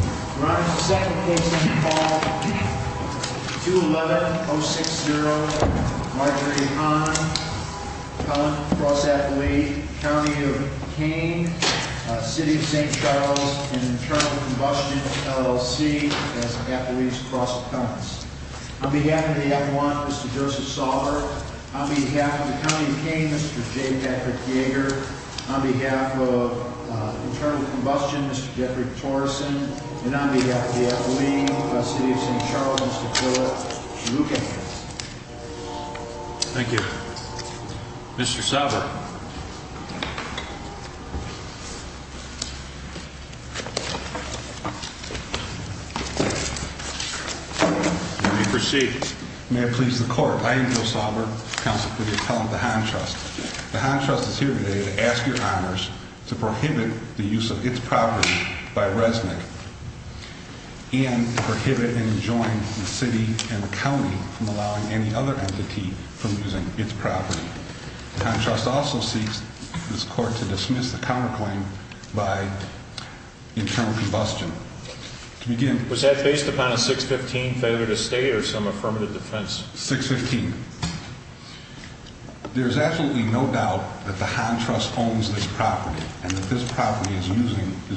Your Honor, the second case on the call, 211-060, Marjorie Conn, Conn Cross Athlete, County of Kane, City of St. Charles, and Internal Combustion, LLC, as athletes, Cross of Conn's. On behalf of the F-1, Mr. Joseph Sauber. On behalf of the County of Kane, Mr. J. Patrick Yeager. On behalf of Internal Combustion, Mr. Jeffrey Torreson. And on behalf of the F-1, the City of St. Charles, Mr. Philip Shalookan. Thank you. Mr. Sauber. May it please the court. I am Joe Sauber, counsel for the appellant, the Hahn Trust. The Hahn Trust is here today to ask your honors to prohibit the use of its property by Resnick and prohibit and enjoin the City and the County from allowing any other entity from using its property. The Hahn Trust also seeks this court to dismiss the counterclaim by Internal Combustion. Was that based upon a 615 favor to stay or some affirmative defense? 615. There's absolutely no doubt that the Hahn Trust owns this property and that this property is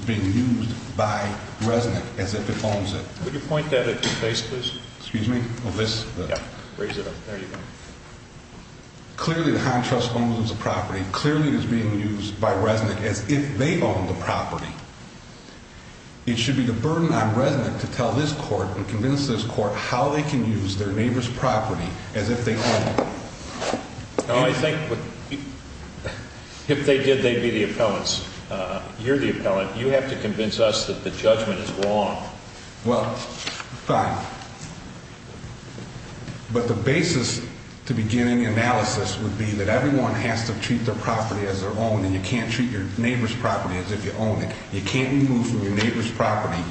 being used by Resnick as if it owns it. Could you point that at your face, please? Excuse me? Yeah, raise it up. There you go. Clearly the Hahn Trust owns the property. Clearly it is being used by Resnick as if they own the property. It should be the burden on Resnick to tell this court and convince this court how they can use their neighbor's property as if they own it. I think if they did, they'd be the appellants. You're the appellant. You have to convince us that the judgment is wrong. Well, fine. But the basis to begin any analysis would be that everyone has to treat their property as their own and you can't treat your neighbor's property as if you own it. You can't move from your neighbor's property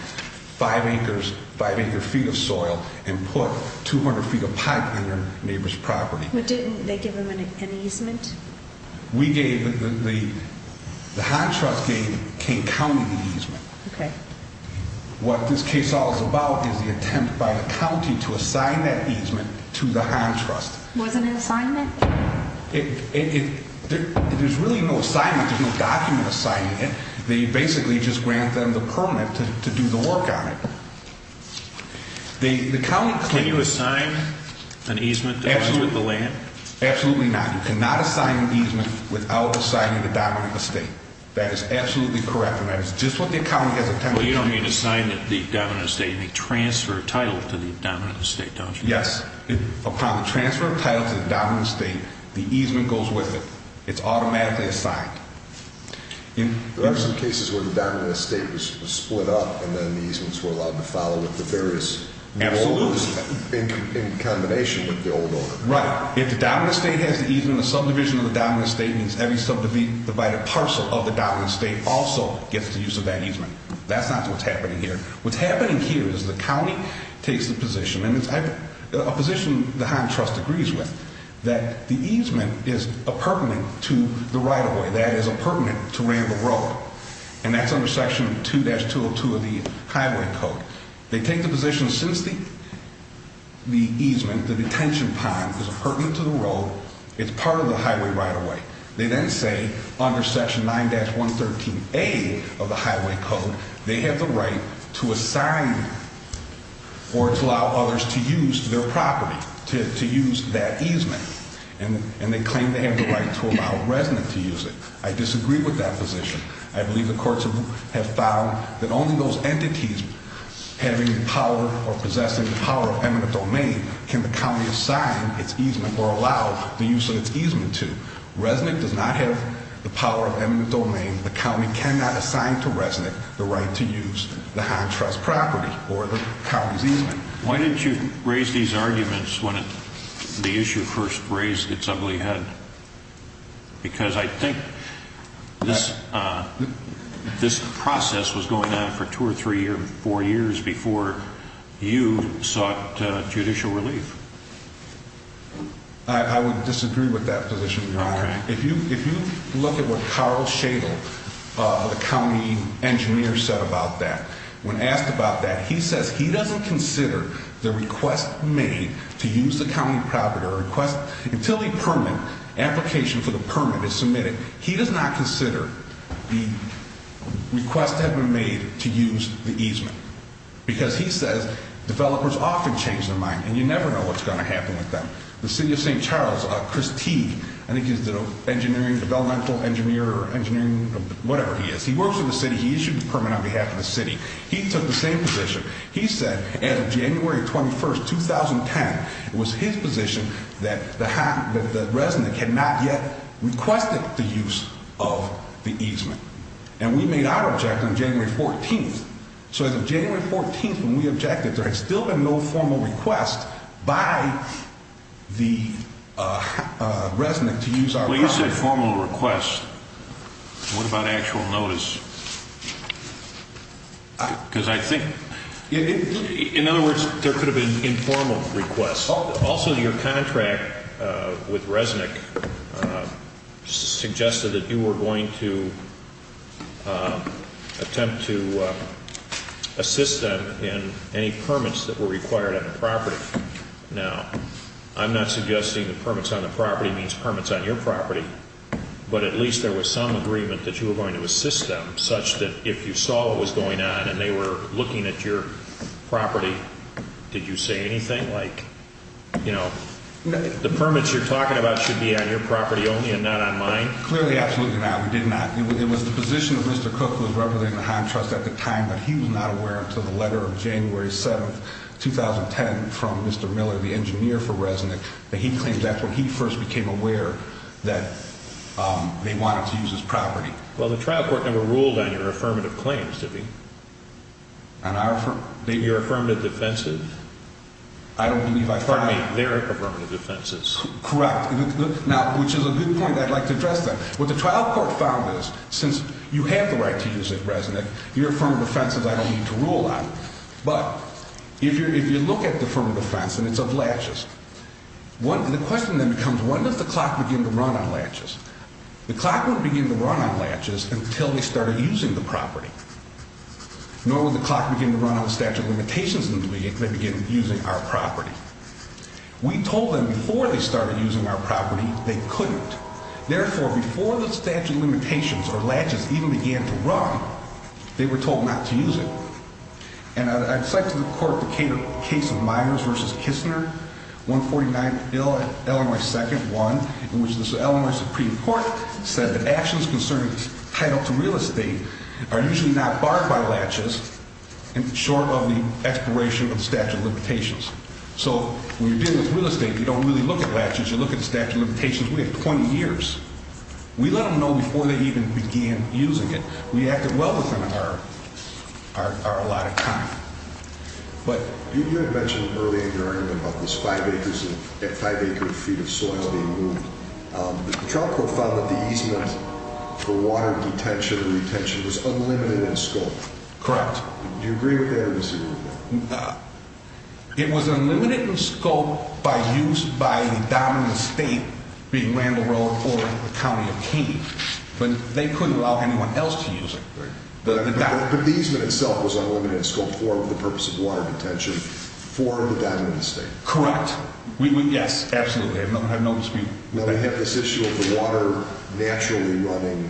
five acres, five acre feet of soil and put 200 feet of pipe on your neighbor's property. But didn't they give them an easement? The Hahn Trust gave King County the easement. Okay. What this case all is about is the attempt by the county to assign that easement to the Hahn Trust. Wasn't it an assignment? There's really no assignment. There's no document assigning it. They basically just grant them the permit to do the work on it. Can you assign an easement to the land? Absolutely not. You cannot assign an easement without assigning the dominant estate. That is absolutely correct. And that is just what the county has attempted to do. You don't need to assign the dominant estate. You need to transfer a title to the dominant estate, don't you? Yes. Upon the transfer of title to the dominant estate, the easement goes with it. It's automatically assigned. There are some cases where the dominant estate was split up and then the easements were allowed to follow with the various new orders in combination with the old order. Right. If the dominant estate has the easement, the subdivision of the dominant estate means every subdivided parcel of the dominant estate also gets the use of that easement. That's not what's happening here. What's happening here is the county takes the position, and it's a position the Hahn Trust agrees with, that the easement is appurtenant to the right-of-way. That is appurtenant to Ramble Road. And that's under Section 2-202 of the Highway Code. They take the position since the easement, the detention pond, is appurtenant to the road, it's part of the highway right-of-way. They then say under Section 9-113A of the Highway Code, they have the right to assign or to allow others to use their property, to use that easement. And they claim they have the right to allow residents to use it. I disagree with that position. I believe the courts have found that only those entities having the power or possessing the power of eminent domain can the county assign its easement or allow the use of its easement to. Resnick does not have the power of eminent domain. The county cannot assign to Resnick the right to use the Hahn Trust property or the county's easement. Why didn't you raise these arguments when the issue first raised its ugly head? Because I think this process was going on for two or three or four years before you sought judicial relief. I would disagree with that position, Your Honor. If you look at what Carl Shadle, the county engineer, said about that, when asked about that, he says he doesn't consider the request made to use the county property or request until the permit, application for the permit is submitted. He does not consider the request that had been made to use the easement. Because he says developers often change their mind and you never know what's going to happen with them. The city of St. Charles, Chris T., I think he's the developmental engineer, whatever he is, he works for the city, he issued the permit on behalf of the city. He took the same position. He said, as of January 21st, 2010, it was his position that Resnick had not yet requested the use of the easement. And we made our objection on January 14th. So as of January 14th when we objected, there had still been no formal request by the Resnick to use our property. Well, you said formal request. What about actual notice? Because I think... In other words, there could have been informal requests. Also, your contract with Resnick suggested that you were going to attempt to assist them in any permits that were required on the property. Now, I'm not suggesting that permits on the property means permits on your property. But at least there was some agreement that you were going to assist them such that if you saw what was going on and they were looking at your property, did you say anything like, you know, the permits you're talking about should be on your property only and not on mine? Clearly, absolutely not. We did not. It was the position of Mr. Cook, who was representing the Hine Trust at the time, but he was not aware until the letter of January 7th, 2010, from Mr. Miller, the engineer for Resnick, that he claims that's when he first became aware that they wanted to use his property. Well, the trial court never ruled on your affirmative claims, did they? Your affirmative defenses? I don't believe I found them. Pardon me, their affirmative defenses. Correct. Now, which is a good point I'd like to address then. What the trial court found is, since you have the right to use it, Resnick, your affirmative offenses I don't need to rule on. But if you look at the affirmative offense and it's of latches, the question then becomes, when does the clock begin to run on latches? The clock would begin to run on latches until they started using the property. Nor would the clock begin to run on the statute of limitations until they began using our property. We told them before they started using our property they couldn't. Therefore, before the statute of limitations or latches even began to run, they were told not to use it. And I'd cite to the court the case of Myers v. Kistner, 149 Illinois 2nd, 1, in which the Illinois Supreme Court said that actions concerning title to real estate are usually not barred by latches, short of the expiration of the statute of limitations. So when you're dealing with real estate, you don't really look at latches, you look at the statute of limitations. We have 20 years. We let them know before they even began using it. We acted well within our allotted time. You had mentioned earlier in your argument about these 5-acre feet of soil being moved. The trial court found that the easement for water retention was unlimited in scope. Correct. Do you agree with that or disagree with that? It was unlimited in scope by use by the dominant state, being Randall Road or the county of Kane. But they couldn't allow anyone else to use it. But the easement itself was unlimited in scope for the purpose of water retention for the dominant state. Correct. Yes, absolutely. I have no dispute. Now, I have this issue of the water naturally running,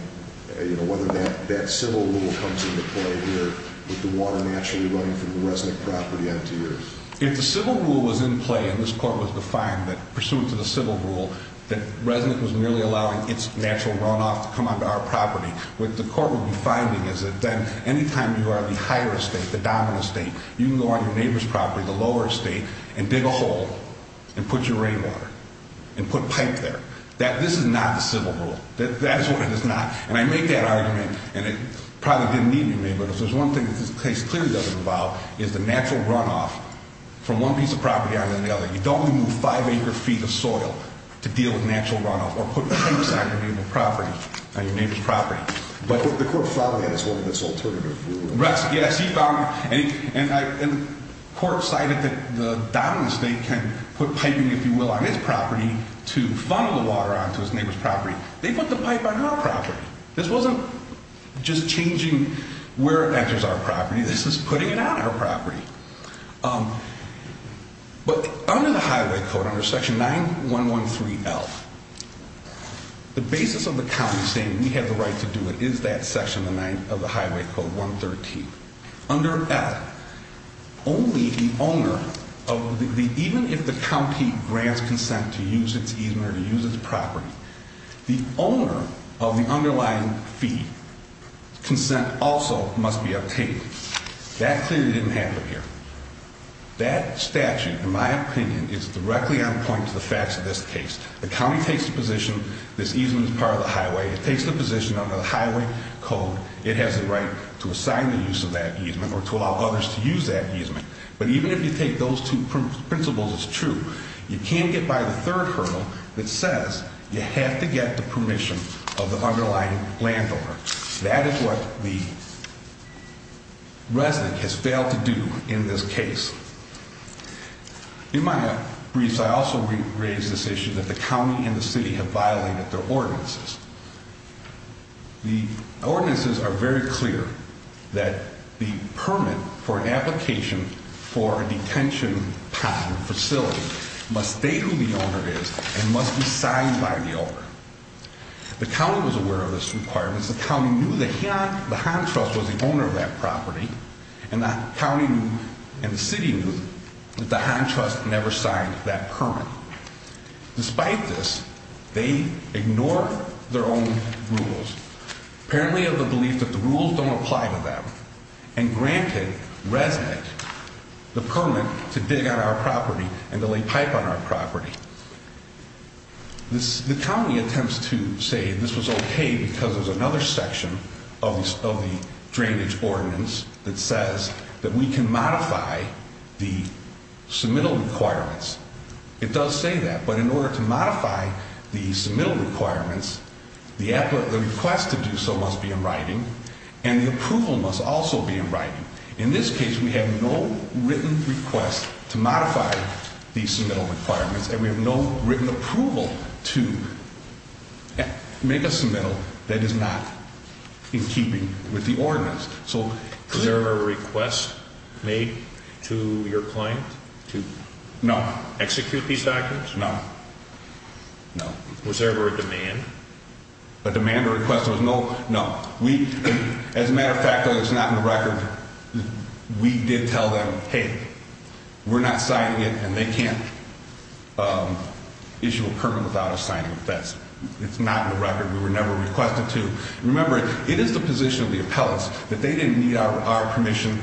whether that civil rule comes into play here, with the water naturally running from the resident property on to yours. If the civil rule was in play and this court was defined that, pursuant to the civil rule, that resident was merely allowing its natural runoff to come onto our property, what the court would be finding is that then any time you are in the higher estate, the dominant estate, you can go on your neighbor's property, the lower estate, and dig a hole and put your rainwater and put pipe there. This is not the civil rule. That is what it is not. And I make that argument, and it probably didn't need to be made, but if there's one thing that this case clearly doesn't involve, it's the natural runoff from one piece of property onto the other. You don't remove five acre feet of soil to deal with natural runoff or put pipes on your neighbor's property. But the court found that as one of its alternatives. Yes, he found that. And the court cited that the dominant state can put piping, if you will, on its property to funnel the water onto its neighbor's property. They put the pipe on our property. This wasn't just changing where it enters our property. This is putting it on our property. But under the Highway Code, under section 9113L, the basis of the county saying we have the right to do it is that section of the Highway Code, 113. Under that, only the owner of the, even if the county grants consent to use its easement or to use its property, the owner of the underlying fee consent also must be uptaken. That clearly didn't happen here. That statute, in my opinion, is directly on point to the facts of this case. The county takes the position this easement is part of the highway. It takes the position under the Highway Code it has the right to assign the use of that easement or to allow others to use that easement. But even if you take those two principles as true, you can't get by the third hurdle that says you have to get the permission of the underlying landowner. That is what the resident has failed to do in this case. In my briefs, I also raised this issue that the county and the city have violated their ordinances. The ordinances are very clear that the permit for an application for a detention facility must state who the owner is and must be signed by the owner. The county was aware of this requirement. The county knew that the Hahn Trust was the owner of that property, and the county knew and the city knew that the Hahn Trust never signed that permit. Despite this, they ignore their own rules, apparently of the belief that the rules don't apply to them, and granted residents the permit to dig on our property and to lay pipe on our property. The county attempts to say this was okay because there's another section of the drainage ordinance that says that we can modify the submittal requirements. It does say that, but in order to modify the submittal requirements, the request to do so must be in writing, and the approval must also be in writing. In this case, we have no written request to modify these submittal requirements, and we have no written approval to make a submittal that is not in keeping with the ordinance. Was there a request made to your client to execute these documents? No. Was there ever a demand? A demand or request? No. As a matter of fact, though, it's not in the record. We did tell them, hey, we're not signing it, and they can't issue a permit without us signing it. It's not in the record. We were never requested to. Remember, it is the position of the appellants that they didn't need our permission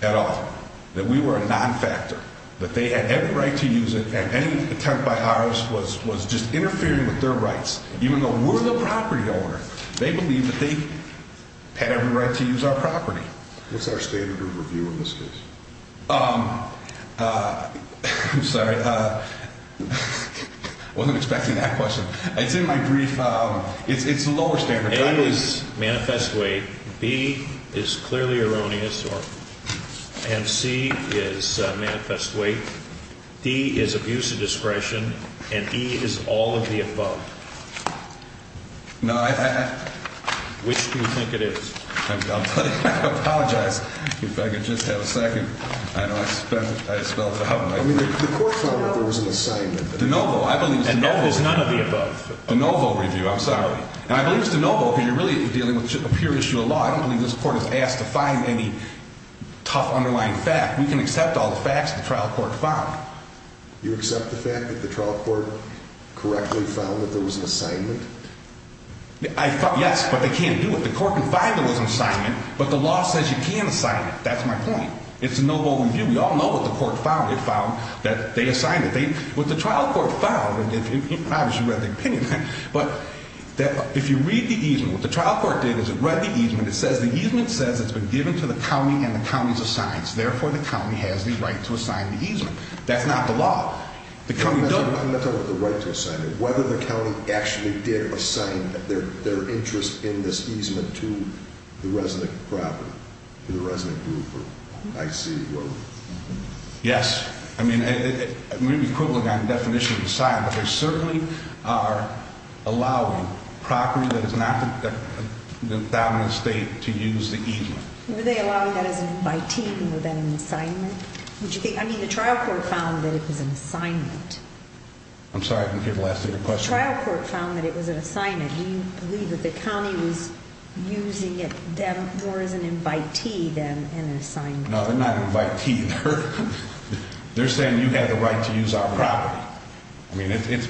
at all, that we were a non-factor, that they had every right to use it, and any attempt by ours was just interfering with their rights. Even though we're the property owner, they believe that they had every right to use our property. What's our standard of review in this case? I'm sorry. I wasn't expecting that question. It's in my brief. It's the lower standard. A is manifest weight. B is clearly erroneous, and C is manifest weight. D is abuse of discretion, and E is all of the above. Which do you think it is? I'm sorry. I apologize. If I could just have a second. I know I spelled it out. I mean, the court found that there was an assignment. De novo. I believe it's de novo. And none of the above. De novo review. I'm sorry. And I believe it's de novo, because you're really dealing with a pure issue of law. I don't believe this court is asked to find any tough underlying fact. We can accept all the facts the trial court found. You accept the fact that the trial court correctly found that there was an assignment? Yes, but they can't do it. The court can find there was an assignment, but the law says you can't assign it. That's my point. It's de novo review. We all know what the court found. It found that they assigned it. What the trial court found, and obviously you read the opinion, but if you read the easement, what the trial court did is it read the easement. And it says, the easement says it's been given to the county and the county's assigned. Therefore, the county has the right to assign the easement. That's not the law. I'm not talking about the right to assign it. Whether the county actually did assign their interest in this easement to the resident property, to the resident group or IC group. Yes. I mean, it may be equivalent on the definition of assigned, but they certainly are allowing a property that is not the dominant state to use the easement. Were they allowing that as an invitee more than an assignment? I mean, the trial court found that it was an assignment. I'm sorry, I didn't hear the last of your question. The trial court found that it was an assignment. Do you believe that the county was using it more as an invitee than an assignment? No, they're not an invitee. They're saying you have the right to use our property. I mean, this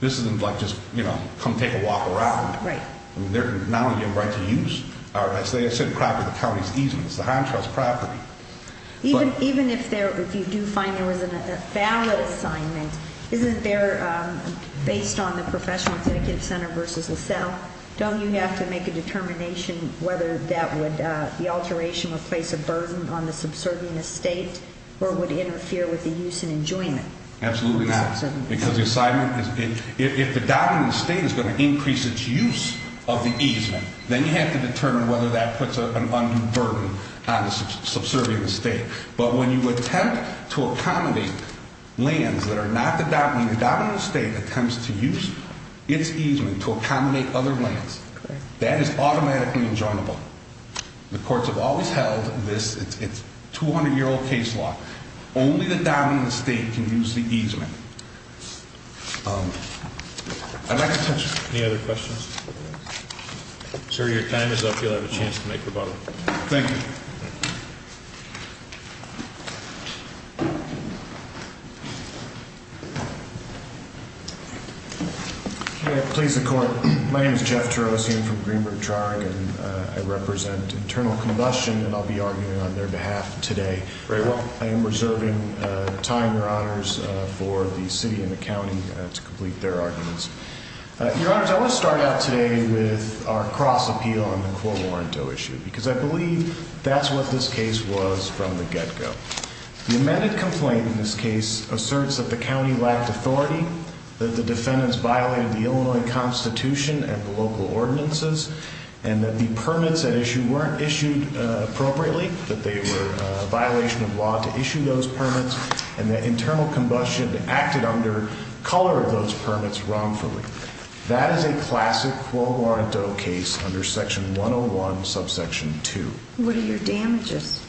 isn't like just, you know, come take a walk around. Right. They're not allowing you the right to use. As I said, it's a property of the county's easement. It's a high-interest property. Even if you do find there was a valid assignment, isn't there, based on the professional incentive center versus LaSalle, don't you have to make a determination whether the alteration would place a burden on the subservient estate or would interfere with the use and enjoyment? Absolutely not. Because the assignment is, if the dominant estate is going to increase its use of the easement, then you have to determine whether that puts an undue burden on the subservient estate. But when you attempt to accommodate lands that are not the dominant, the dominant estate attempts to use its easement to accommodate other lands. That is automatically enjoinable. The courts have always held this, it's 200-year-old case law. Only the dominant estate can use the easement. I'd like to touch on that. Any other questions? Sir, your time is up. You'll have a chance to make a rebuttal. Thank you. May it please the Court. My name is Jeff Terosian from Greenberg Trog, and I represent Internal Combustion, and I'll be arguing on their behalf today. Very well. I am reserving time, Your Honors, for the City and the County to complete their arguments. Your Honors, I want to start out today with our cross-appeal on the core warranto issue, because I believe that's what this case was from the get-go. The amended complaint in this case asserts that the County lacked authority, that the defendants violated the Illinois Constitution and the local ordinances, and that the permits at issue weren't issued appropriately, that they were a violation of law to issue those permits, and that Internal Combustion acted under color of those permits wrongfully. That is a classic core warranto case under Section 101, Subsection 2. What are your damages?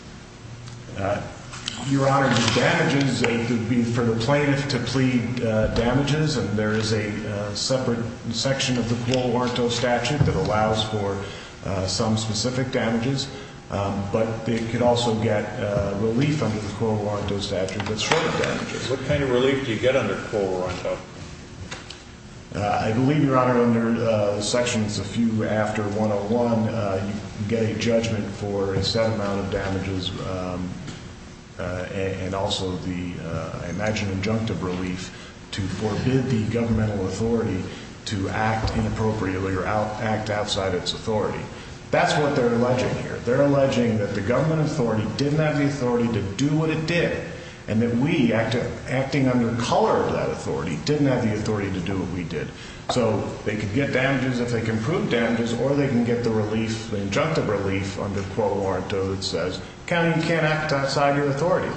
Your Honors, the damages would be for the plaintiff to plead damages, and there is a specific damages, but they could also get relief under the core warranto statute, but certain damages. What kind of relief do you get under core warranto? I believe, Your Honor, under Sections a few after 101, you get a judgment for a set amount of damages, and also the, I imagine, injunctive relief to forbid the governmental authority to act inappropriately or act outside its authority. That's what they're alleging here. They're alleging that the government authority didn't have the authority to do what it did, and that we, acting under color of that authority, didn't have the authority to do what we did. So, they could get damages if they can prove damages, or they can get the relief, the injunctive relief under core warranto that says, County, you can't act outside your authority.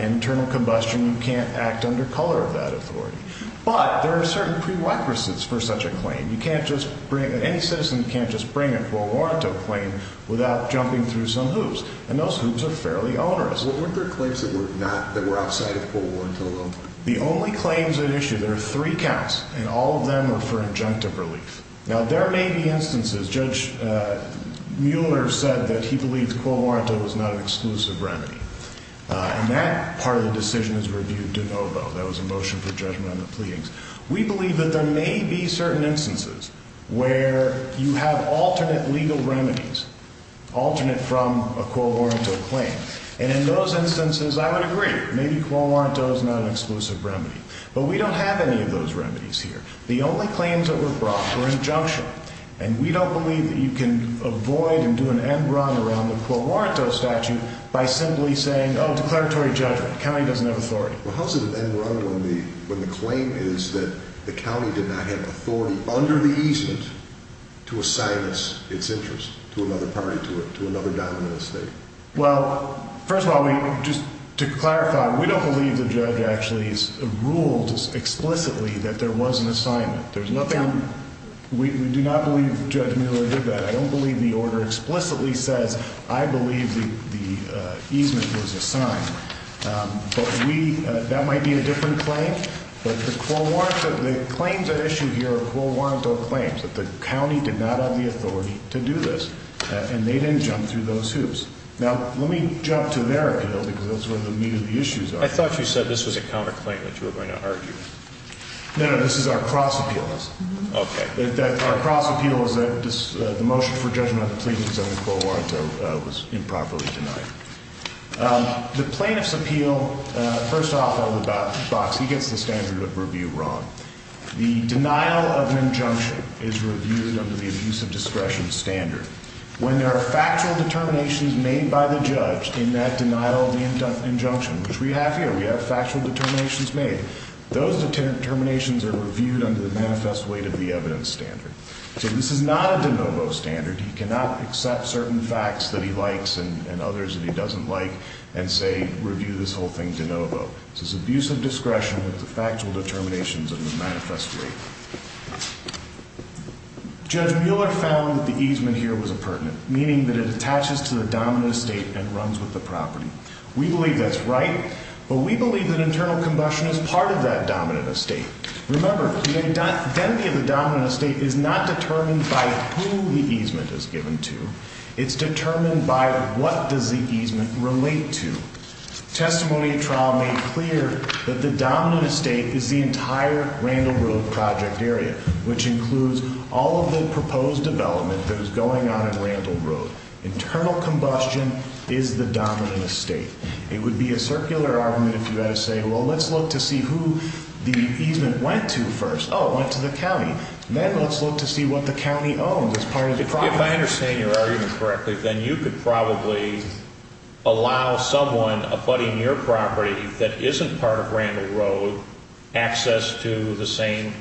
Internal Combustion, you can't act under color of that authority. But, there are certain prerequisites for such a claim. You can't just bring, any citizen can't just bring a core warranto claim without jumping through some hoops, and those hoops are fairly onerous. Well, weren't there claims that were not, that were outside of core warranto alone? The only claims at issue, there are three counts, and all of them are for injunctive relief. Now, there may be instances, Judge Mueller said that he believes core warranto was not an exclusive remedy, and that part of the decision is reviewed de novo. That was a motion for judgment on the pleadings. We believe that there may be certain instances where you have alternate legal remedies, alternate from a core warranto claim. And, in those instances, I would agree. Maybe core warranto is not an exclusive remedy. But, we don't have any of those remedies here. The only claims that were brought were injunctive, and we don't believe that you can avoid and do an end run around the core warranto statute by simply saying, oh, declaratory judgment. County doesn't have authority. Well, how is it an end run when the claim is that the county did not have authority under the easement to assign its interest to another party, to another dominant state? Well, first of all, we, just to clarify, we don't believe the judge actually has ruled explicitly that there was an assignment. There's nothing, we do not believe Judge Mueller did that. I don't believe the order explicitly says, I believe the easement was assigned. But, we, that might be a different claim. But, the core warranto, the claims at issue here are core warranto claims, that the county did not have the authority to do this. And, they didn't jump through those hoops. Now, let me jump to their appeal, because that's where the meat of the issues are. I thought you said this was a counterclaim that you were going to argue. No, no, this is our cross appeal. Okay. Our cross appeal is that the motion for judgment of the pleadings on the core warranto was improperly denied. The plaintiff's appeal, first off, he gets the standard of review wrong. The denial of an injunction is reviewed under the abuse of discretion standard. When there are factual determinations made by the judge in that denial of the injunction, which we have here, we have factual determinations made. Those determinations are reviewed under the manifest weight of the evidence standard. So, this is not a de novo standard. He cannot accept certain facts that he likes and others that he doesn't like and say, review this whole thing de novo. This is abuse of discretion with the factual determinations of the manifest weight. Judge Mueller found that the easement here was a pertinent, meaning that it attaches to the dominant estate and runs with the property. We believe that's right, but we believe that internal combustion is part of that dominant estate. Remember, the identity of the dominant estate is not determined by who the easement is given to. It's determined by what does the easement relate to. Testimony trial made clear that the dominant estate is the entire Randall Road project area, which includes all of the proposed development that is going on in Randall Road. Internal combustion is the dominant estate. It would be a circular argument if you had to say, well, let's look to see who the easement went to first. Oh, it went to the county. Then let's look to see what the county owns as part of the property. If I understand your argument correctly, then you could probably allow someone abutting your property that isn't part of Randall Road access to the same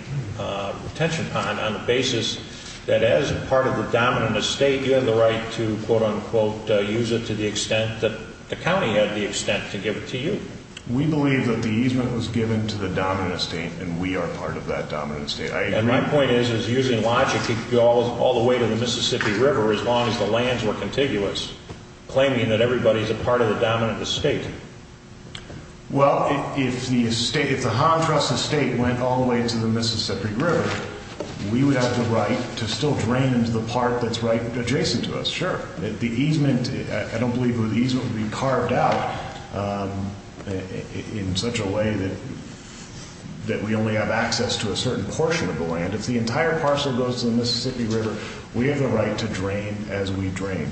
retention pond on the basis that as part of the dominant estate, you have the right to, quote, unquote, use it to the extent that the county had the extent to give it to you. We believe that the easement was given to the dominant estate, and we are part of that dominant estate. And my point is, using logic, it could go all the way to the Mississippi River as long as the lands were contiguous, claiming that everybody is a part of the dominant estate. Well, if the contrast estate went all the way to the Mississippi River, we would have the right to still drain into the part that's right adjacent to us, sure. The easement, I don't believe the easement would be carved out in such a way that we only have access to a certain portion of the land. If the entire parcel goes to the Mississippi River, we have the right to drain as we drain.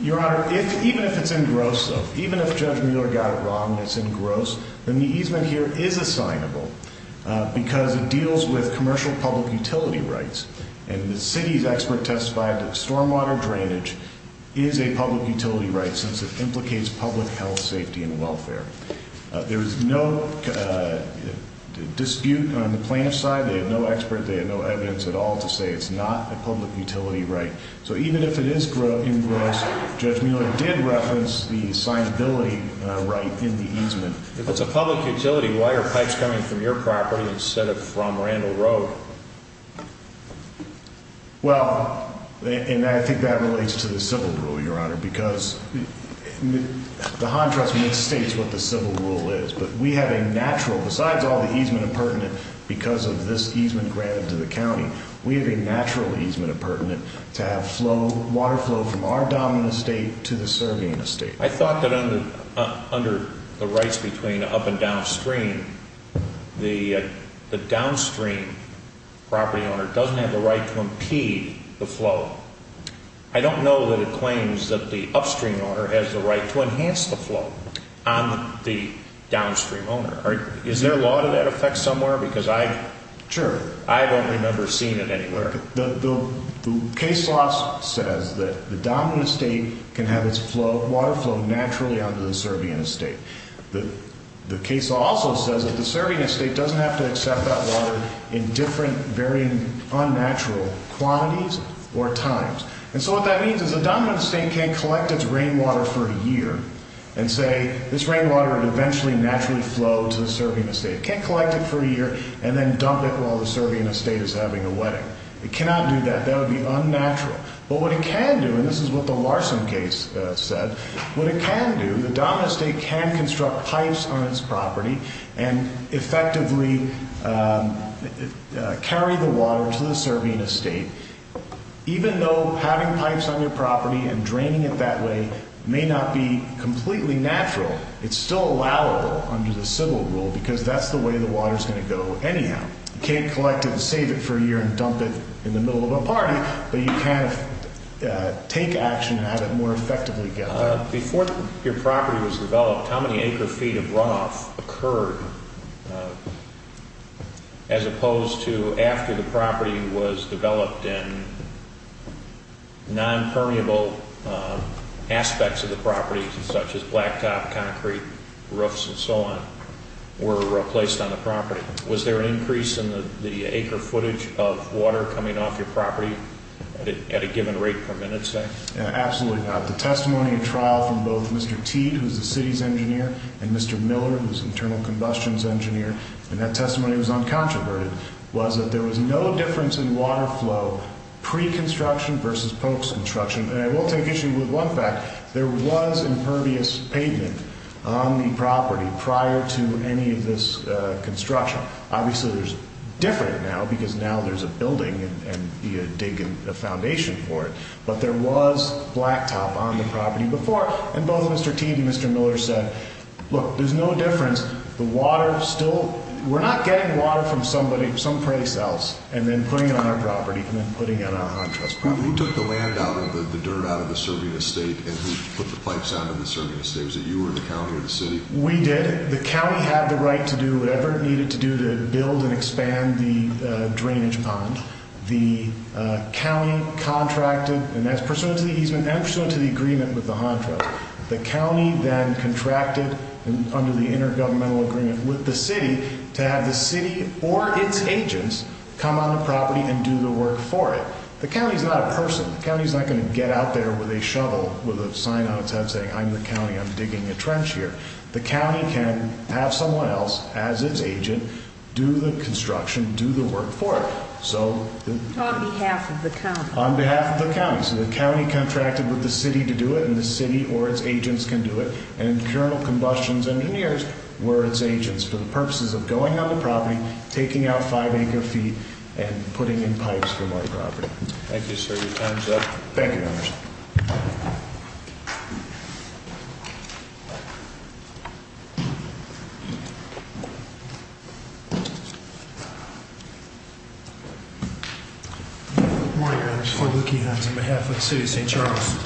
Your Honor, even if it's engrossed, even if Judge Mueller got it wrong and it's engrossed, then the easement here is assignable because it deals with commercial public utility rights. And the city's expert testified that stormwater drainage is a public utility right since it implicates public health, safety, and welfare. There is no dispute on the plaintiff's side. They have no expert. They have no evidence at all to say it's not a public utility right. So even if it is engrossed, Judge Mueller did reference the assignability right in the easement. If it's a public utility, why are pipes coming from your property instead of from Randall Road? Well, and I think that relates to the civil rule, Your Honor, because the HON Trust misstates what the civil rule is. But we have a natural, besides all the easement appurtenant because of this easement granted to the county, we have a natural easement appurtenant to have water flow from our dominant estate to the surveying estate. I thought that under the rights between up and downstream, the downstream property owner doesn't have the right to impede the flow. I don't know that it claims that the upstream owner has the right to enhance the flow on the downstream owner. Is there a law to that effect somewhere? Because I don't remember seeing it anywhere. The case law says that the dominant estate can have its water flow naturally out to the surveying estate. The case law also says that the surveying estate doesn't have to accept that water in different, very unnatural quantities or times. And so what that means is the dominant estate can't collect its rainwater for a year and say this rainwater would eventually naturally flow to the surveying estate. It can't collect it for a year and then dump it while the surveying estate is having a wedding. It cannot do that. That would be unnatural. But what it can do, and this is what the Larson case said, what it can do, the dominant estate can construct pipes on its property and effectively carry the water to the surveying estate even though having pipes on your property and draining it that way may not be completely natural. It's still allowable under the civil rule because that's the way the water is going to go anyhow. You can't collect it and save it for a year and dump it in the middle of a party, but you can take action at it more effectively. Before your property was developed, how many acre feet of runoff occurred as opposed to after the property was developed and nonpermeable aspects of the property, such as blacktop, concrete, roofs, and so on, were placed on the property? Was there an increase in the acre footage of water coming off your property at a given rate per minute, say? Absolutely not. The testimony of trial from both Mr. Teed, who's the city's engineer, and Mr. Miller, who's the internal combustion's engineer, and that testimony was uncontroverted, was that there was no difference in water flow pre-construction versus post-construction. And I will take issue with one fact. There was impervious pavement on the property prior to any of this construction. Obviously, it's different now because now there's a building and you're digging a foundation for it. But there was blacktop on the property before. And both Mr. Teed and Mr. Miller said, look, there's no difference. The water still – we're not getting water from somebody, some place else, and then putting it on our property and then putting it on a high-trust property. Who took the land out and the dirt out of the Serbian estate and who put the pipes out of the Serbian estate? Was it you or the county or the city? We did. The county had the right to do whatever it needed to do to build and expand the drainage pond. The county contracted – and that's pursuant to the easement and pursuant to the agreement with the contract. The county then contracted under the intergovernmental agreement with the city to have the city or its agents come on the property and do the work for it. The county is not a person. The county is not going to get out there with a shovel, with a sign on its head saying, I'm the county, I'm digging a trench here. The county can have someone else, as its agent, do the construction, do the work for it. On behalf of the county. On behalf of the county. So the county contracted with the city to do it and the city or its agents can do it. And internal combustions engineers were its agents for the purposes of going on the property, taking out five-acre feet, and putting in pipes for my property. Thank you, sir. Your time is up. Thank you, Your Honor. Good morning, Your Honor. Floyd Leukehans on behalf of the city of St. Charles.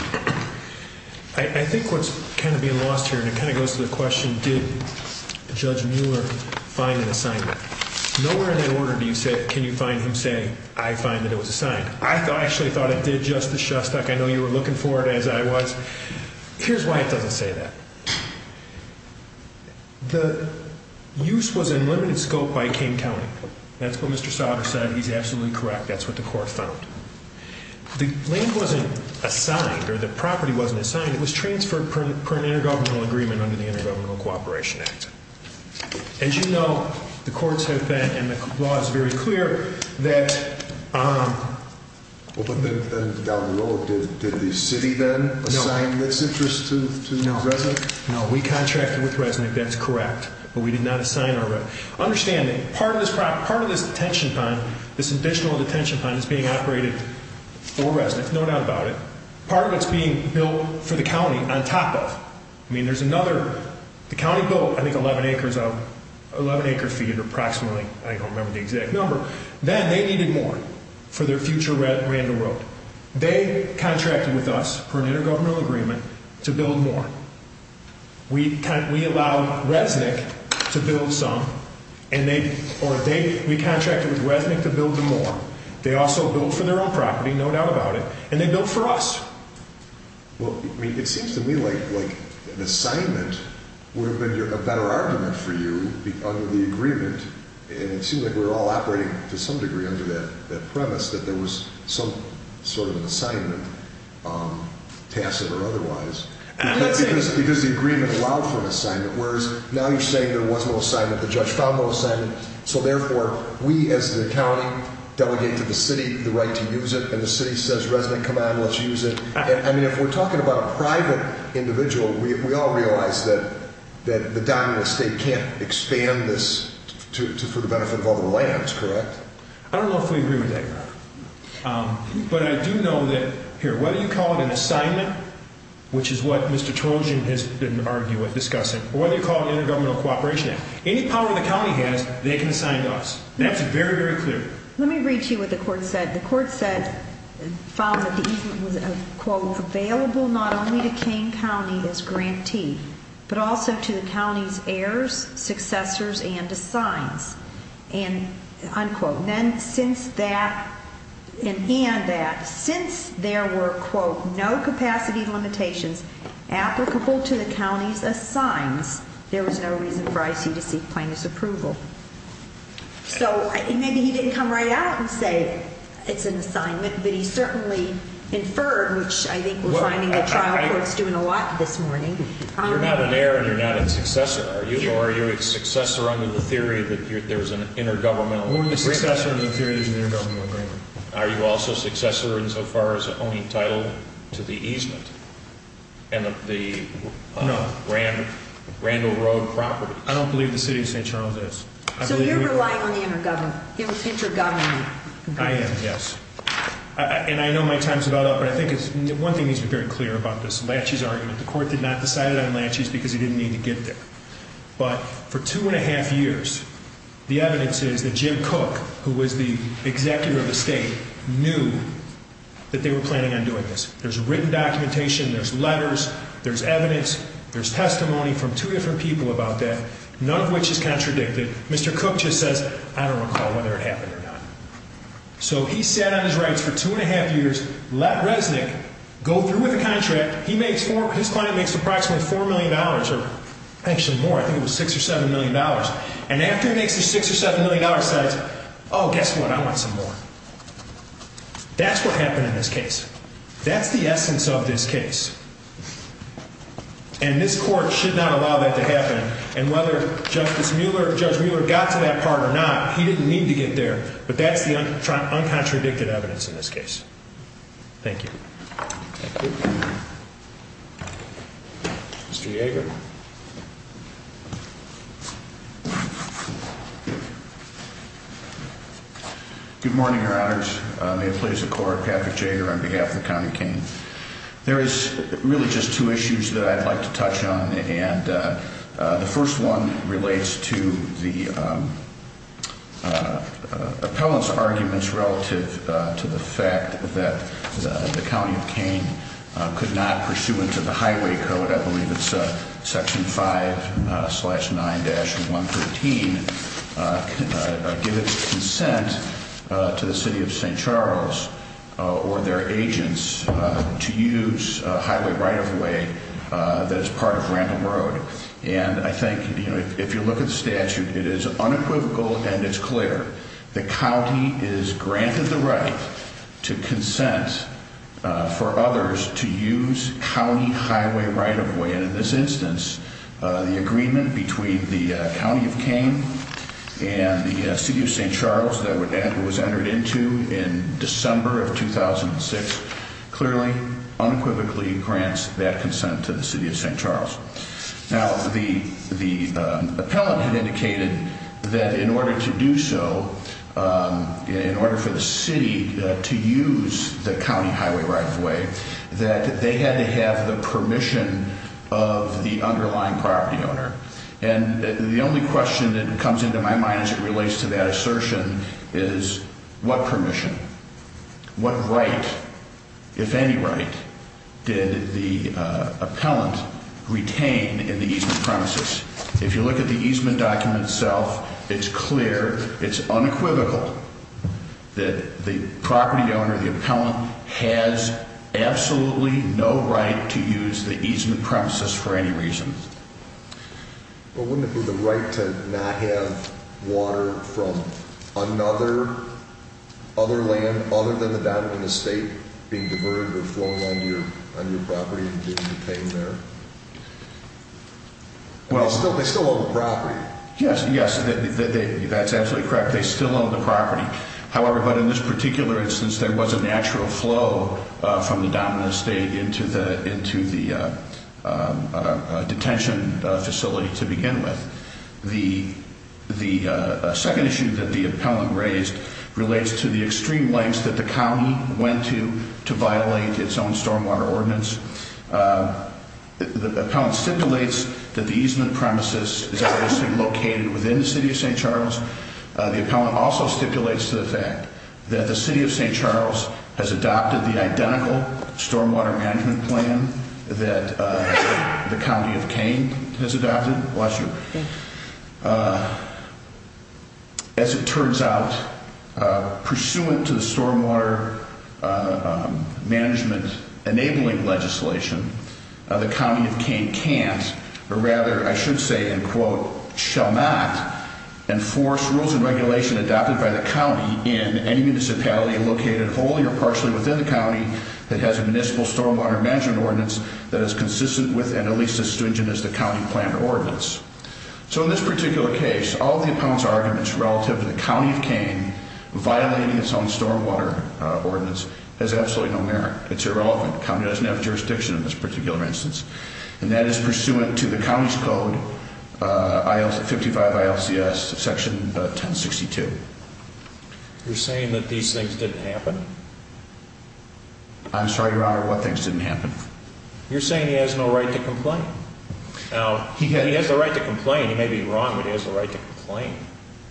I think what's kind of being lost here, and it kind of goes to the question, did Judge Mueller find an assignment? Nowhere in that order do you say, can you find him saying, I find that it was assigned. I actually thought it did, Justice Shostak. I know you were looking for it, as I was. Here's why it doesn't say that. The use was in limited scope by King County. That's what Mr. Sautter said. He's absolutely correct. That's what the court found. The land wasn't assigned or the property wasn't assigned. It was transferred per an intergovernmental agreement under the Intergovernmental Cooperation Act. As you know, the courts have been, and the law is very clear, that. Well, but then down the road, did the city then assign this interest to Resnick? No, we contracted with Resnick. That's correct. But we did not assign our. Understanding, part of this detention pond, this additional detention pond, is being operated for Resnick. There's no doubt about it. Part of it's being built for the county on top of. I mean, there's another. The county built, I think, 11 acres of, 11 acre feet, approximately. I don't remember the exact number. Then they needed more for their future roundabout. They contracted with us per an intergovernmental agreement to build more. We allowed Resnick to build some. And they, or they, we contracted with Resnick to build them more. They also built for their own property, no doubt about it. And they built for us. Well, I mean, it seems to me like an assignment would have been a better argument for you under the agreement. And it seemed like we were all operating to some degree under that premise, that there was some sort of assignment, tacit or otherwise. Because the agreement allowed for an assignment. Whereas now you're saying there was no assignment. The judge found no assignment. So, therefore, we as the county delegate to the city the right to use it. And the city says, Resnick, come on, let's use it. I mean, if we're talking about a private individual, we all realize that the dominant state can't expand this for the benefit of other lands, correct? I don't know if we agree with that, Your Honor. But I do know that, here, whether you call it an assignment, which is what Mr. Trojan has been arguing, discussing, or whether you call it an intergovernmental cooperation act, any power the county has, they can assign to us. That's very, very clear. Let me read to you what the court said. The court said, found that the easement was, quote, available not only to Kane County as grantee, but also to the county's heirs, successors, and assigns. And, unquote. Then, since that, and that, since there were, quote, no capacity limitations applicable to the county's assigns, there was no reason for IC to seek plaintiff's approval. So, maybe he didn't come right out and say it's an assignment, but he certainly inferred, which I think we're finding the trial court's doing a lot this morning. You're not an heir and you're not a successor, are you? Or are you a successor under the theory that there's an intergovernmental agreement? We're a successor under the theory there's an intergovernmental agreement. Are you also a successor insofar as owning title to the easement and the Randall Road property? No. I don't believe the City of St. Charles is. So, you're relying on the intergovernment. He was intergoverning. I am, yes. And I know my time's about up, but I think it's, one thing needs to be very clear about this. The court did not decide on laches because he didn't need to get there. But for two and a half years, the evidence is that Jim Cook, who was the executive of the state, knew that they were planning on doing this. There's written documentation. There's letters. There's evidence. There's testimony from two different people about that, none of which is contradicted. Mr. Cook just says, I don't recall whether it happened or not. So, he sat on his rights for two and a half years, let Resnick go through with the contract. His client makes approximately $4 million, or actually more, I think it was $6 or $7 million. And after he makes the $6 or $7 million, he says, oh, guess what, I want some more. That's what happened in this case. That's the essence of this case. And this court should not allow that to happen. And whether Justice Mueller, Judge Mueller got to that part or not, he didn't need to get there. But that's the uncontradicted evidence in this case. Thank you. Thank you. Mr. Jaeger. Good morning, Your Honors. May it please the Court, Patrick Jaeger on behalf of the County Cain. There is really just two issues that I'd like to touch on. And the first one relates to the appellant's arguments relative to the fact that the County of Cain could not, pursuant to the Highway Code, I believe it's Section 5-9-113, give its consent to the City of St. Charles or their agents to use highway right-of-way that is part of Ramblin' Road. And I think, you know, if you look at the statute, it is unequivocal and it's clear. The county is granted the right to consent for others to use county highway right-of-way. And in this instance, the agreement between the County of Cain and the City of St. Charles that was entered into in December of 2006 clearly unequivocally grants that consent to the City of St. Charles. Now, the appellant had indicated that in order to do so, in order for the city to use the county highway right-of-way, that they had to have the permission of the underlying property owner. And the only question that comes into my mind as it relates to that assertion is what permission? What right, if any right, did the appellant retain in the easement premises? If you look at the easement document itself, it's clear, it's unequivocal, that the property owner, the appellant, has absolutely no right to use the easement premises for any reason. Well, wouldn't it be the right to not have water from another land other than the downtown estate being diverted or flown on your property in Cain there? Yes, yes, that's absolutely correct. They still own the property. However, but in this particular instance, there was a natural flow from the downtown estate into the detention facility to begin with. The second issue that the appellant raised relates to the extreme lengths that the county went to to violate its own stormwater ordinance. The appellant stipulates that the easement premises is obviously located within the city of St. Charles. The appellant also stipulates the fact that the city of St. Charles has adopted the identical stormwater management plan that the county of Cain has adopted. As it turns out, pursuant to the stormwater management enabling legislation, the county of Cain can't, or rather I should say in quote, shall not enforce rules and regulations adopted by the county in any municipality located wholly or partially within the county that has a municipal stormwater management ordinance that is consistent with and at least as stringent as the county-planned ordinance. So in this particular case, all of the appellant's arguments relative to the county of Cain violating its own stormwater ordinance has absolutely no merit. It's irrelevant. The county doesn't have jurisdiction in this particular instance. And that is pursuant to the county's code, 55 ILCS section 1062. You're saying that these things didn't happen? I'm sorry, Your Honor, what things didn't happen? You're saying he has no right to complain. Now, he has the right to complain. He may be wrong, but he has the right to complain.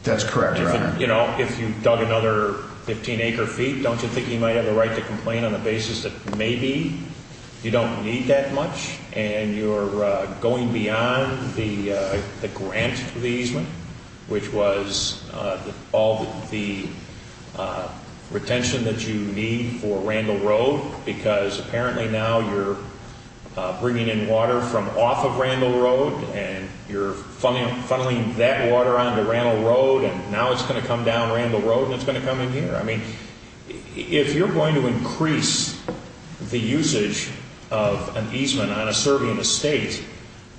That's correct, Your Honor. You know, if you dug another 15 acre feet, don't you think he might have the right to complain on the basis that maybe you don't need that much and you're going beyond the grant for the easement, which was all the retention that you need for Randall Road because apparently now you're bringing in water from off of Randall Road and you're funneling that water onto Randall Road and now it's going to come down Randall Road and it's going to come in here. I mean, if you're going to increase the usage of an easement on a serving estate,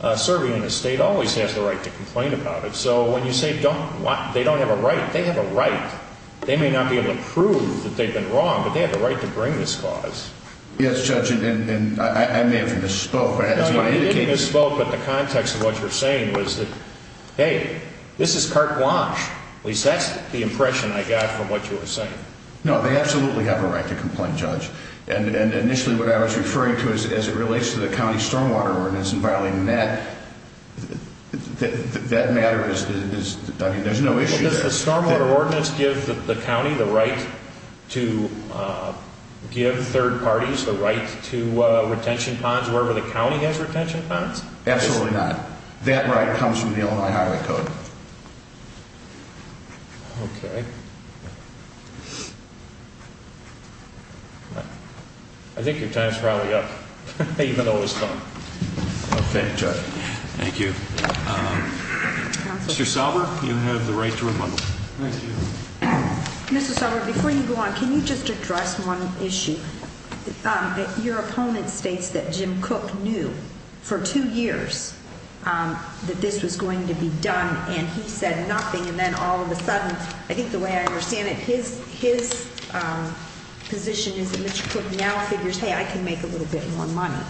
a serving estate always has the right to complain about it. So when you say they don't have a right, they have a right. They may not be able to prove that they've been wrong, but they have the right to bring this clause. Yes, Judge, and I may have misspoke. No, you didn't misspoke, but the context of what you were saying was that, hey, this is carte blanche. At least that's the impression I got from what you were saying. No, they absolutely have a right to complain, Judge. And initially what I was referring to as it relates to the county stormwater ordinance and violating that, that matter is, I mean, there's no issue there. Does the stormwater ordinance give the county the right to give third parties the right to retention ponds wherever the county has retention ponds? Absolutely not. That right comes from the Illinois Highway Code. Okay. I think your time's probably up, even though it was fun. Okay, Judge. Thank you. Mr. Sauber, you have the right to rebuttal. Thank you. Mr. Sauber, before you go on, can you just address one issue? Your opponent states that Jim Cook knew for two years that this was going to be done, and he said nothing. And then all of a sudden, I think the way I understand it, his position is that Mr. Cook now figures, hey, I can make a little bit more money.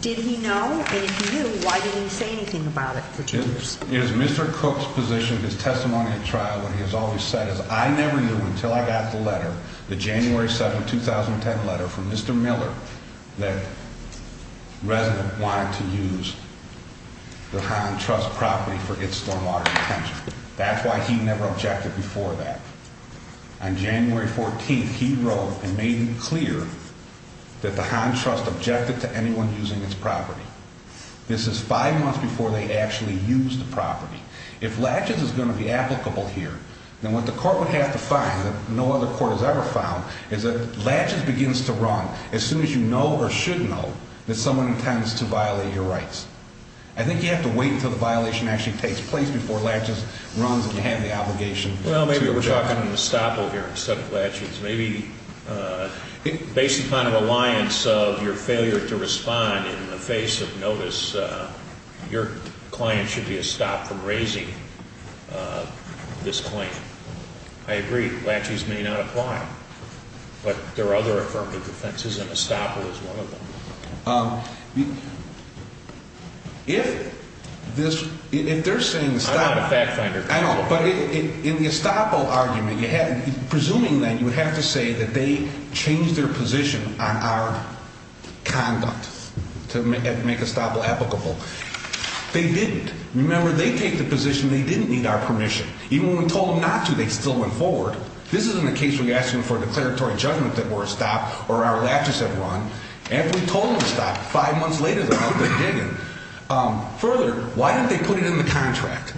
Did he know? And if he knew, why didn't he say anything about it for two years? It is Mr. Cook's position, his testimony at trial, what he has always said is, I never knew until I got the letter, the January 7, 2010 letter from Mr. Miller, that residents wanted to use the Hahn Trust property for its stormwater retention. That's why he never objected before that. On January 14th, he wrote and made it clear that the Hahn Trust objected to anyone using its property. This is five months before they actually used the property. If laches is going to be applicable here, then what the court would have to find, that no other court has ever found, is that laches begins to run as soon as you know or should know that someone intends to violate your rights. I think you have to wait until the violation actually takes place before laches runs and you have the obligation to object. We're talking estoppel here instead of laches. Maybe based upon a reliance of your failure to respond in the face of notice, your client should be estopped from raising this claim. I agree, laches may not apply. But there are other affirmative defenses and estoppel is one of them. If this, if they're saying estoppel. I'm not a fact finder. I know, but in the estoppel argument, you had, presuming then you would have to say that they changed their position on our conduct to make estoppel applicable. They didn't. Remember, they take the position they didn't need our permission. Even when we told them not to, they still went forward. This isn't a case where you're asking for a declaratory judgment that we're estopped or our laches have run. If we told them to stop five months later, they're out there digging. Further, why didn't they put it in the contract?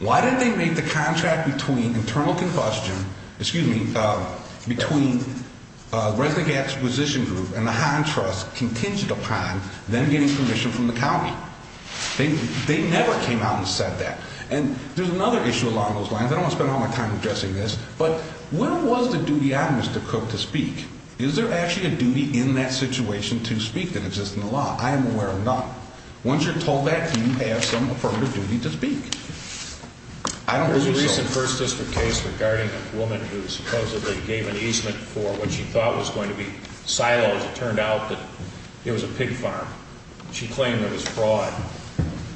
Why didn't they make the contract between internal combustion, excuse me, between Resnick Gap's position group and the Hahn Trust contingent upon them getting permission from the county? They never came out and said that. And there's another issue along those lines. I don't want to spend all my time addressing this, but where was the duty on Mr. Cook to speak? Is there actually a duty in that situation to speak that exists in the law? I am aware of none. Once you're told that, you have some affirmative duty to speak. I don't believe so. There was a recent First District case regarding a woman who supposedly gave an easement for what she thought was going to be silos. It turned out that it was a pig farm. She claimed it was fraud.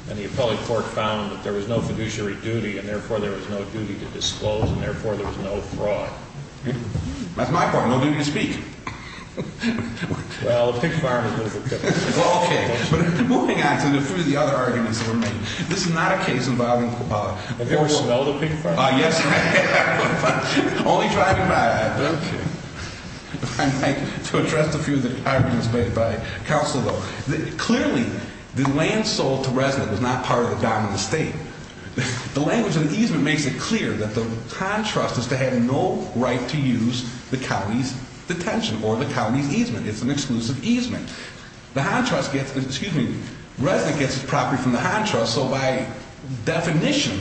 And the appellate court found that there was no fiduciary duty, and therefore there was no duty to disclose, and therefore there was no fraud. That's my part, no duty to speak. Well, a pig farm is a little bit different. Well, okay. But moving on to three of the other arguments that were made. This is not a case involving a horse. A vehicle involving a pig farm? Yes. Only driving by. Okay. I'd like to address a few of the arguments made by counsel, though. Clearly, the land sold to resident was not part of the dominant estate. The language in the easement makes it clear that the Hahn Trust is to have no right to use the county's detention or the county's easement. It's an exclusive easement. The Hahn Trust gets, excuse me, Resnick gets its property from the Hahn Trust. So by definition,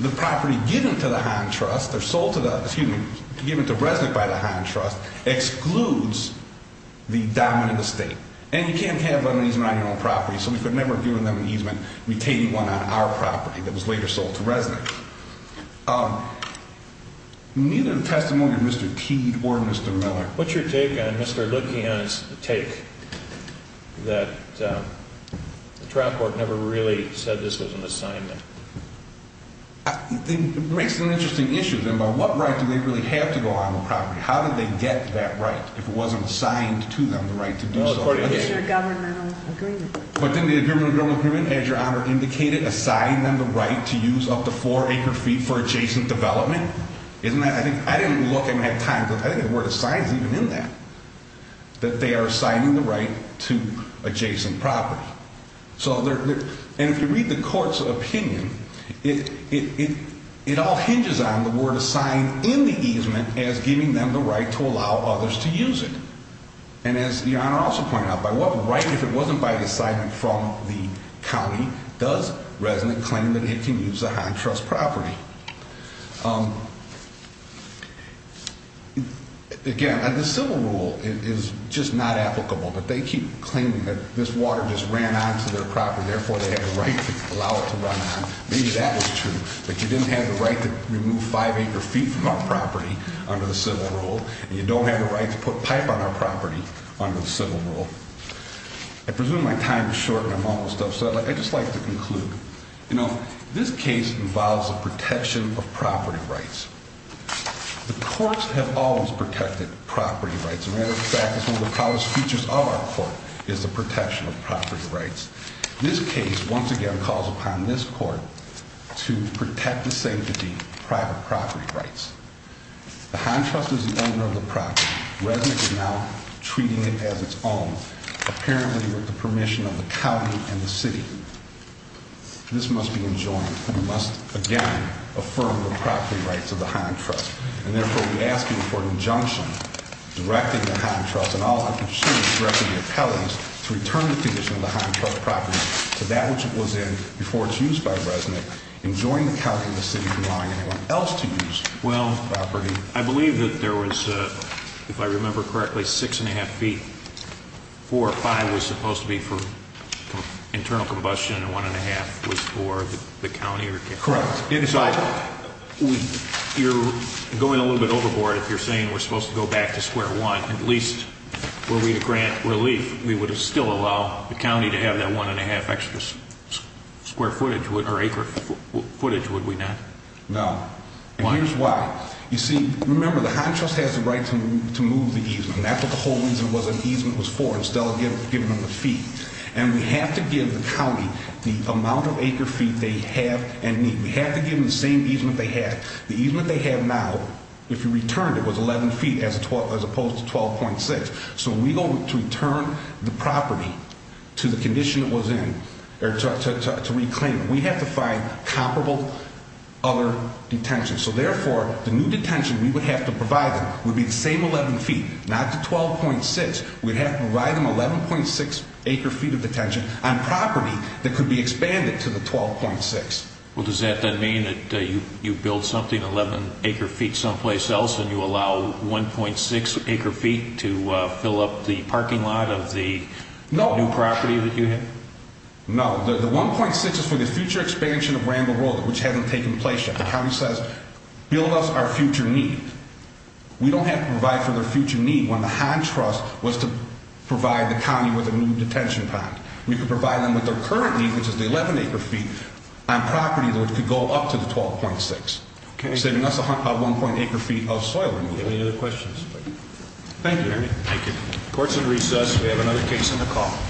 the property given to the Hahn Trust or sold to the, excuse me, given to Resnick by the Hahn Trust excludes the dominant estate. And you can't have an easement on your own property, so we could never do an easement retaining one on our property that was later sold to Resnick. Neither the testimony of Mr. Teed or Mr. Miller. What's your take on Mr. Lukian's take that the trial court never really said this was an assignment? It makes an interesting issue, then, by what right do they really have to go on the property? How did they get that right if it wasn't assigned to them the right to do so? Well, according to their governmental agreement. But didn't the government agreement, as Your Honor indicated, assign them the right to use up to four acre feet for adjacent development? Isn't that, I didn't look, I didn't have time, but I think the word assign is even in that. That they are assigning the right to adjacent property. So, and if you read the court's opinion, it all hinges on the word assign in the easement as giving them the right to allow others to use it. And as Your Honor also pointed out, by what right, if it wasn't by assignment from the county, does Resnick claim that it can use the Hahn Trust property? Again, the civil rule is just not applicable. But they keep claiming that this water just ran onto their property, therefore they have the right to allow it to run on. Maybe that was true. But you didn't have the right to remove five acre feet from our property under the civil rule. And you don't have the right to put pipe on our property under the civil rule. I presume my time is short and I'm almost done, so I'd just like to conclude. You know, this case involves the protection of property rights. The courts have always protected property rights. In fact, it's one of the proudest features of our court is the protection of property rights. This case, once again, calls upon this court to protect the safety of private property rights. The Hahn Trust is the owner of the property. Resnick is now treating it as its own, apparently with the permission of the county and the city. This must be enjoined. We must, again, affirm the property rights of the Hahn Trust. And therefore, we ask you for an injunction directing the Hahn Trust, and all I can say is directing the appellees, to return the position of the Hahn Trust property to that which it was in before it was used by Resnick, enjoining the county and the city from allowing anyone else to use the property. I believe that there was, if I remember correctly, 6 1⁄2 feet. 4 or 5 was supposed to be for internal combustion, and 1 1⁄2 was for the county or county. Correct. And so, you're going a little bit overboard if you're saying we're supposed to go back to square one. At least, were we to grant relief, we would still allow the county to have that 1 1⁄2 extra square footage, or acre footage, would we not? No. Why? Here's why. You see, remember, the Hahn Trust has the right to move the easement. That's what the whole reason it was an easement was for, instead of giving them the feet. And we have to give the county the amount of acre feet they have and need. We have to give them the same easement they had. The easement they have now, if you returned it, was 11 feet as opposed to 12.6. So, when we go to return the property to the condition it was in, or to reclaim it, we have to find comparable other detentions. So, therefore, the new detention we would have to provide them would be the same 11 feet, not the 12.6. We'd have to provide them 11.6 acre feet of detention on property that could be expanded to the 12.6. Well, does that then mean that you build something 11 acre feet someplace else and you allow 1.6 acre feet to fill up the parking lot of the new property that you have? No. The 1.6 is for the future expansion of Randall Road, which hasn't taken place yet. The county says, build us our future need. We don't have to provide for their future need when the high trust was to provide the county with a new detention pond. We could provide them with their current need, which is the 11 acre feet, on property that could go up to the 12.6. Okay. Saving us 1.8 acre feet of soil. Any other questions? Thank you. Thank you. Court's in recess. We have another case on the call.